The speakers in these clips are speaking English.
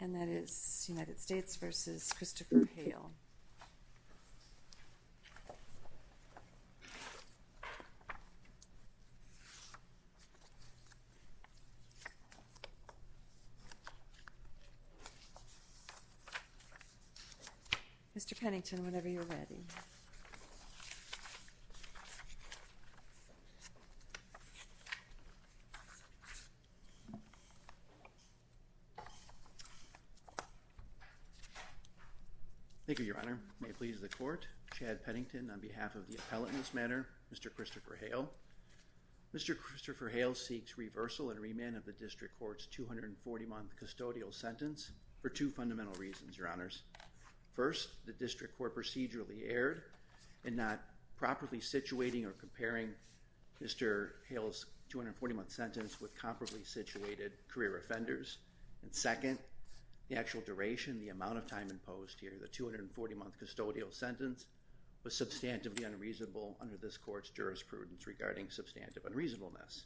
And that is United States v. Christopher Hale. Mr. Pennington, whenever you're ready. Thank you, Your Honor. May it please the court, Chad Pennington on behalf of the appellate in this matter, Mr. Christopher Hale. Mr. Christopher Hale seeks reversal and remand of the District Court's 240-month custodial sentence for two fundamental reasons, Your Honors. First, the District Court procedurally erred in not properly situating or comparing Mr. Hale's 240-month sentence with comparably situated career offenders. And second, the actual duration, the amount of time imposed here, the 240-month custodial sentence was substantively unreasonable under this court's jurisprudence regarding substantive unreasonableness.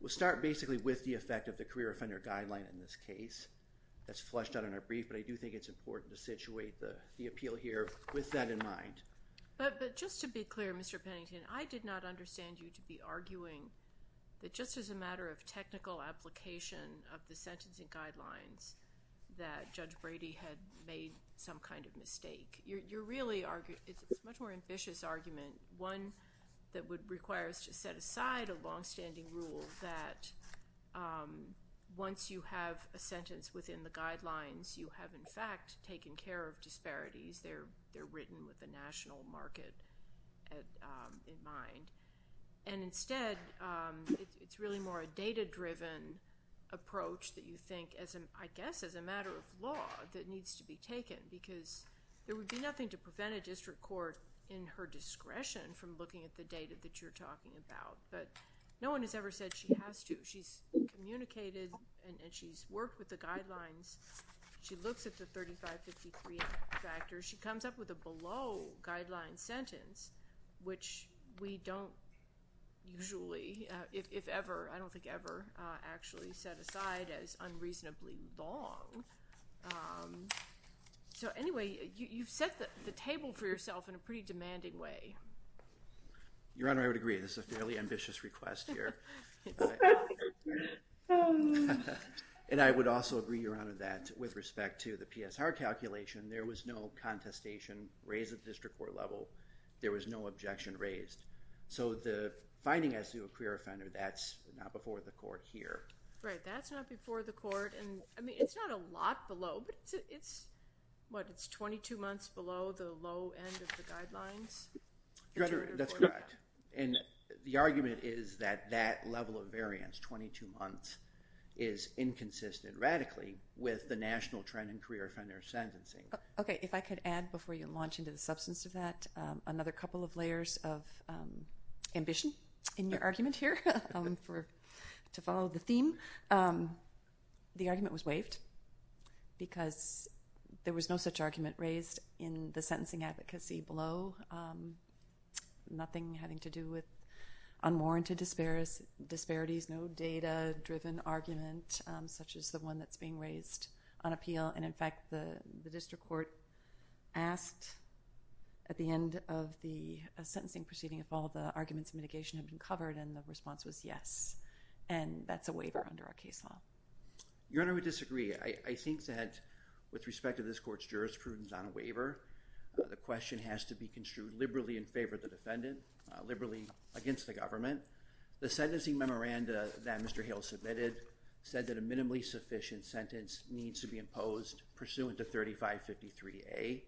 We'll start basically with the effect of the career offender guideline in this case that's fleshed out in our brief, but I do think it's important to situate the appeal here with that in mind. But just to be clear, Mr. Pennington, I did not understand you to be arguing that just as a matter of technical application of the sentencing guidelines that Judge Brady had made some kind of mistake. You're really arguing, it's a much more ambitious argument, one that would require us to set aside a longstanding rule that once you have a sentence within the guidelines, you have, in fact, taken care of disparities. They're written with a national market in mind. And instead, it's really more a data-driven approach that you think, I guess, as a matter of law that needs to be taken, because there would be nothing to prevent a district court in her discretion from looking at the data that you're talking about. But no one has ever said she has to. She's communicated and she's worked with the guidelines. She looks at the 3553 factors. She comes up with a below guideline sentence, which we don't usually, if ever, I don't think ever, actually set aside as unreasonably long. So anyway, you've set the table for yourself in a pretty demanding way. Your Honor, I would agree. This is a fairly And I would also agree, Your Honor, that with respect to the PSR calculation, there was no contestation raised at the district court level. There was no objection raised. So the finding as to a career offender, that's not before the court here. Right. That's not before the court. And I mean, it's not a lot below, but it's, what, it's 22 months below the low end of the guidelines? That's correct. And the argument is that that is inconsistent radically with the national trend in career offender sentencing. Okay. If I could add before you launch into the substance of that, another couple of layers of ambition in your argument here to follow the theme. The argument was waived because there was no such argument raised in the sentencing advocacy below. Nothing having to do with the statute of limitations. The argument was that there was no such argument raised in the sentencing advocacy. And that's a waiver under our case law. Your Honor, I would disagree. I think that with respect to this court's jurisprudence on a waiver, the question has to be construed liberally in favor of the defendant, liberally against the government. The sentencing memoranda that Mr. Hale submitted said that a minimally sufficient sentence needs to be imposed pursuant to 3553A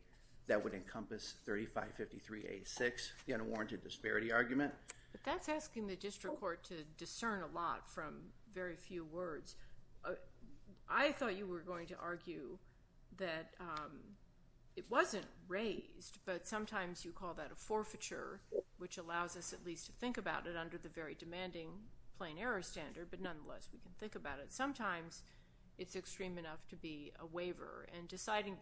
that would encompass 3553A-6, the unwarranted disparity argument. But that's asking the district court to discern a lot from very few words. I thought you were going to argue that it wasn't raised, but it wasn't raised in favor of the government. Well, let me conclude that the Court of Appeals brought forth a recommendation from Court of Appeals for a standardized waiver that would be an appropriate measure. It is not an appropriate measure, and we do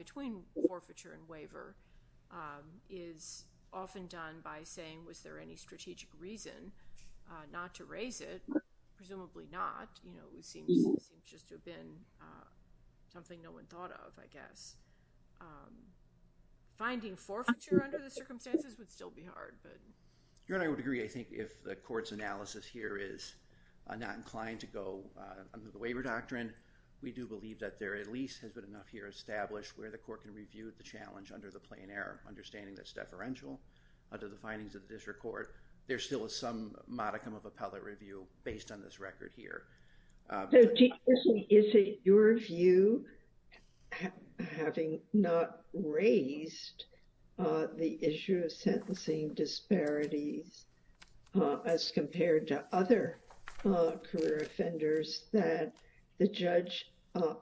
believe that there at least has been enough here established where the Court can review the challenge under the plain air, understanding that it's deferential under the findings of the district court. There still is some modicum of appellate review based on this record here. Is it your view, having not raised the issue of census, that it's an appropriate measure that the same disparities as compared to other career offenders that the judge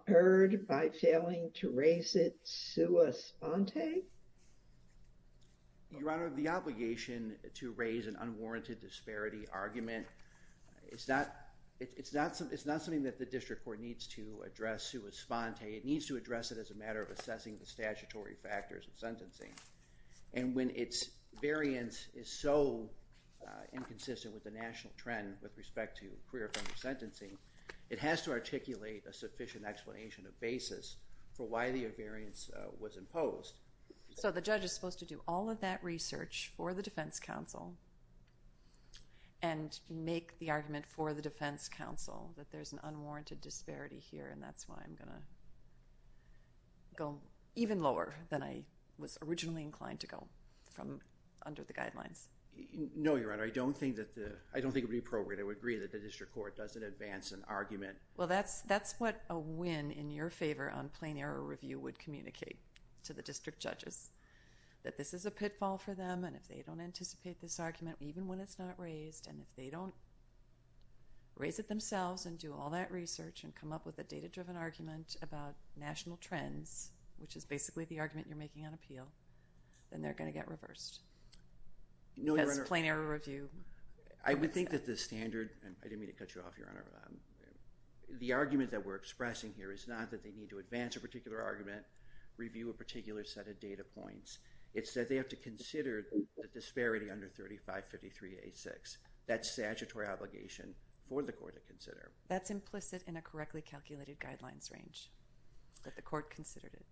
erred by failing to raise it sui sponte? Your Honor, the obligation to raise an unwarranted disparity argument, it's not something that the district court needs to address sui sponte. It needs to address it as a matter of assessing the statutory factors of sentencing. And when its variance is so inconsistent with the national trend with respect to career offender sentencing, it has to articulate a sufficient explanation of basis for why the variance was imposed. So the judge is supposed to do all of that research for the defense counsel and make the argument for the defense counsel that there's an unwarranted disparity here, and that's why I'm going to go even lower than I was originally inclined to go from under the guidelines. No, Your Honor, I don't think it would be appropriate. I would agree that the district court doesn't advance an argument. Well, that's what a win in your favor on plain error review would communicate to the district judges, that this is a pitfall for them, and if they don't anticipate this argument, even when it's not raised, and if they don't raise it themselves and do all that research and come up with a data-driven argument about national trends, which is basically the argument you're making on appeal, then they're going to get reversed. No, Your Honor— Because plain error review— I would think that the standard—I didn't mean to cut you off, Your Honor. The argument that we're expressing here is not that they need to advance a particular argument, review a particular set of data points. It's that they have to consider the disparity under 3553A6. That's statutory obligation for the court to consider. That's implicit in a correctly calculated guidelines range that the court considered it.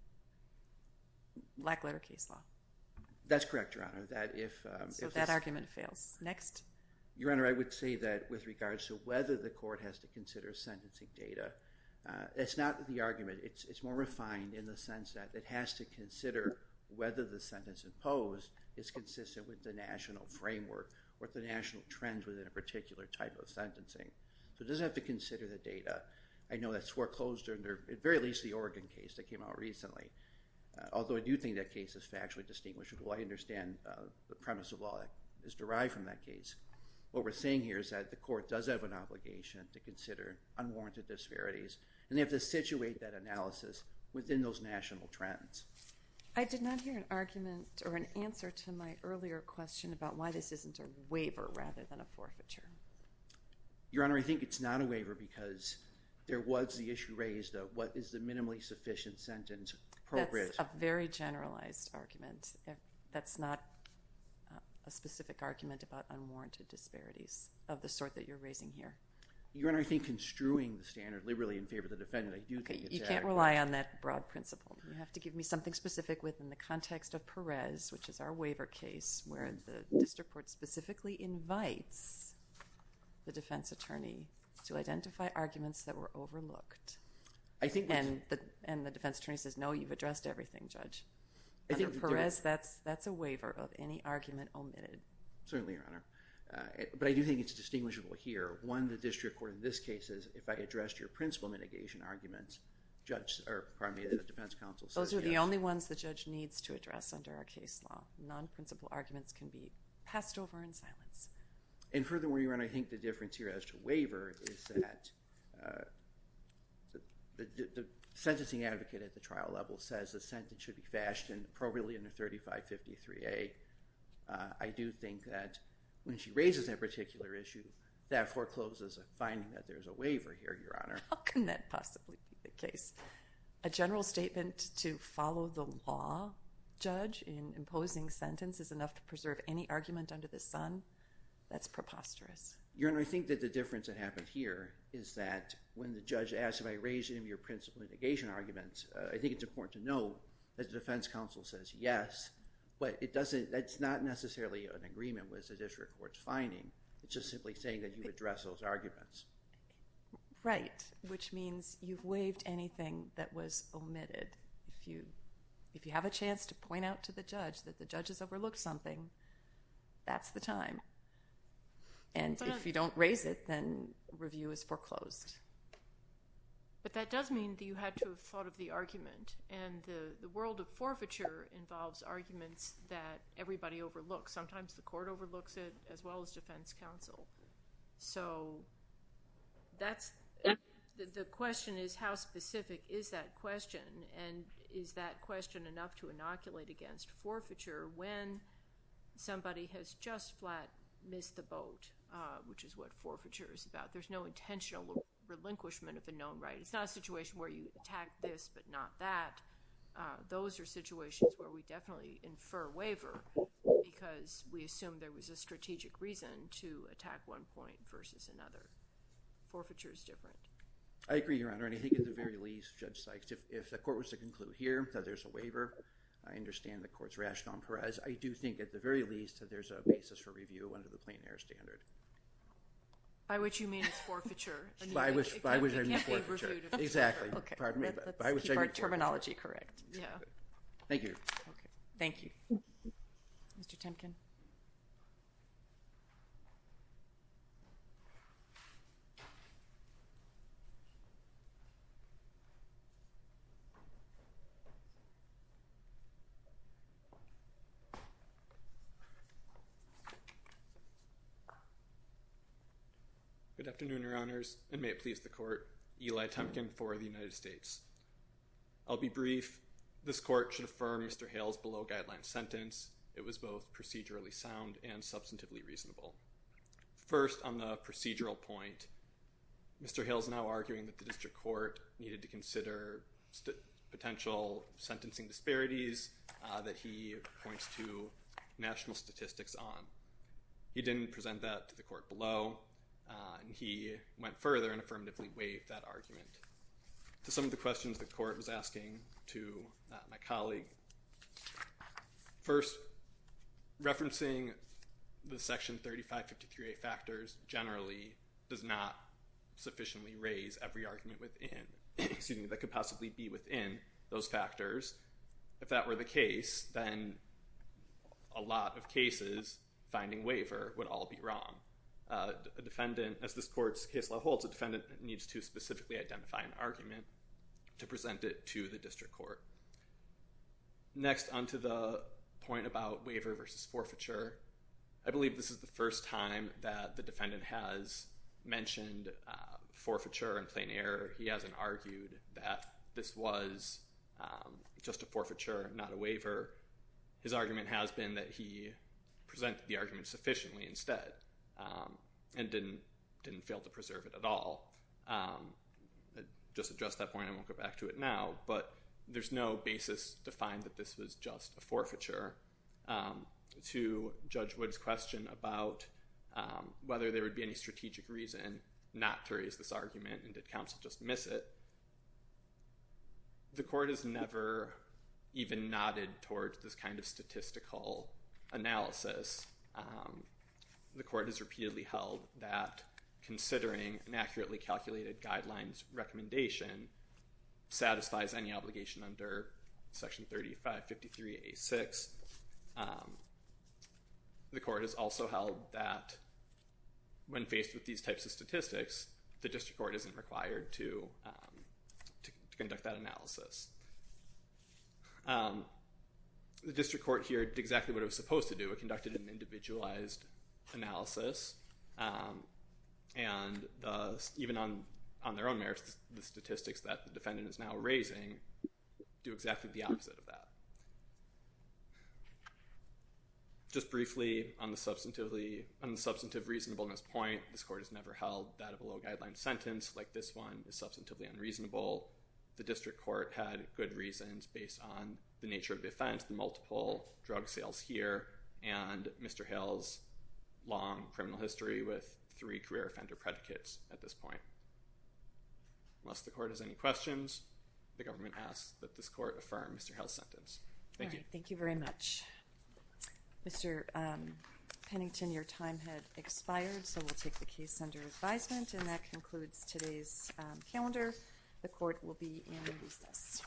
Black letter case law. That's correct, Your Honor. That if— So that argument fails. Next. Your Honor, I would say that with regards to whether the court has to consider sentencing data, it's not the argument. It's more refined in the sense that it has to consider whether the sentence imposed is consistent with the national framework or the national trends within a particular type of sentencing. So it doesn't have to consider the data. I know that's foreclosed under, at the very least, the Oregon case that came out recently, although I do think that case is factually distinguishable. I understand the premise of law is derived from that case. What we're saying here is that the court does have an obligation to consider unwarranted disparities, and they have to situate that analysis within those national trends. I did not hear an argument or an answer to my earlier question about why this isn't a waiver rather than a forfeiture. Your Honor, I think it's not a waiver because there was the issue raised of what is the minimally sufficient sentence appropriate— That's a very generalized argument. That's not a specific argument about unwarranted disparities of the sort that you're raising here. Your Honor, I think construing the standard liberally in favor of the defendant, I do think it's adequate. You can't rely on that broad principle. You have to give me something specific within the context of Perez, which is our waiver case, where the district court specifically invites the defense attorney to identify arguments that were overlooked. And the defense attorney says, no, you've addressed everything, Judge. Under Perez, that's a waiver of any argument omitted. Certainly, Your Honor. But I do think it's distinguishable here. One, the district court in this case is, if I addressed your principle mitigation arguments, the defense counsel needs to address under our case law. Non-principle arguments can be passed over in silence. And furthermore, Your Honor, I think the difference here as to waiver is that the sentencing advocate at the trial level says the sentence should be fashioned appropriately under 3553A. I do think that when she raises that particular issue, that forecloses a finding that there's a waiver here, Your Honor. How can that possibly be the case? A general statement to follow the law, Judge, in imposing sentence is enough to preserve any argument under the sun? That's preposterous. Your Honor, I think that the difference that happened here is that when the judge asked if I raised any of your principle mitigation arguments, I think it's important to note that the defense counsel says yes, but it doesn't, that's not necessarily an agreement with the district court's finding. It's just simply saying that you addressed those arguments. Right. Which means you've waived anything that was omitted. If you have a chance to point out to the judge that the judge has overlooked something, that's the time. And if you don't raise it, then review is foreclosed. But that does mean that you had to have thought of the argument. And the world of forfeiture involves arguments that everybody overlooks. Sometimes the court overlooks it as well as it is that question. And is that question enough to inoculate against forfeiture when somebody has just flat missed the boat, which is what forfeiture is about? There's no intentional relinquishment of a known right. It's not a situation where you attack this but not that. Those are situations where we definitely infer waiver because we assume there was a strategic reason to attack one point versus another. Forfeiture is different. I agree, Your Honor. And I think at the very least, Judge Sykes, if the court was to conclude here that there's a waiver, I understand the court's rationale for it. I do think at the very least that there's a basis for review under the plain air standard. By which you mean it's forfeiture. By which I mean forfeiture. It can't be reviewed if it's forfeiture. Exactly. By which I mean forfeiture. Keep our terminology correct. Thank you. Thank you. Mr. Timken. Good afternoon, Your Honors. And may it please the court, Eli Timken for the United States. I'll be brief. This court should affirm Mr. Hale's below guideline sentence. It was both procedurally sound and substantively reasonable. First, on the procedural point, Mr. Hale's somehow arguing that the district court needed to consider potential sentencing disparities that he points to national statistics on. He didn't present that to the court below. He went further and affirmatively waived that argument. To some of the questions the court was asking to my colleague. First, referencing the Section 3553A factors generally does not sufficiently raise every argument that could possibly be within those factors. If that were the case, then a lot of cases finding waiver would all be wrong. As this court's case law holds, a defendant needs to specifically identify an argument to present it to the district court. Next, on to the point about waiver versus forfeiture. I believe this is the first time that the defendant has mentioned forfeiture in plain error. He hasn't argued that this was just a forfeiture, not a waiver. His argument has been that he presented the argument sufficiently instead and didn't fail to preserve it at all. Just to address that point, I won't go back to it now, but there's no basis to find that this was just a forfeiture. To Judge Wood's question about whether there would be any strategic reason not to raise this argument and did counsel just miss it, the court has never even nodded towards this kind of statistical analysis. The court has repeatedly held that considering an accurately calculated guidelines recommendation satisfies any obligation under Section 3553A.6 that the court has also held that when faced with these types of statistics, the district court isn't required to conduct that analysis. The district court here did exactly what it was supposed to do. It conducted an individualized analysis. Even on their own merits, the statistics that the defendant is now raising do exactly the opposite of that. Just briefly on the substantive reasonableness point, this court has never held that a below guideline sentence like this one is substantively unreasonable. The district court had good reasons based on the nature of the offense, the multiple drug sales here and Mr. Hill's long criminal history with three career offender predicates at this point. Unless the court has any questions, the government asks that this court affirm Mr. Hill's sentence. Thank you. Thank you very much. Mr. Pennington, your time has expired so we'll take the case under advisement and that concludes today's calendar. The court will be in recess.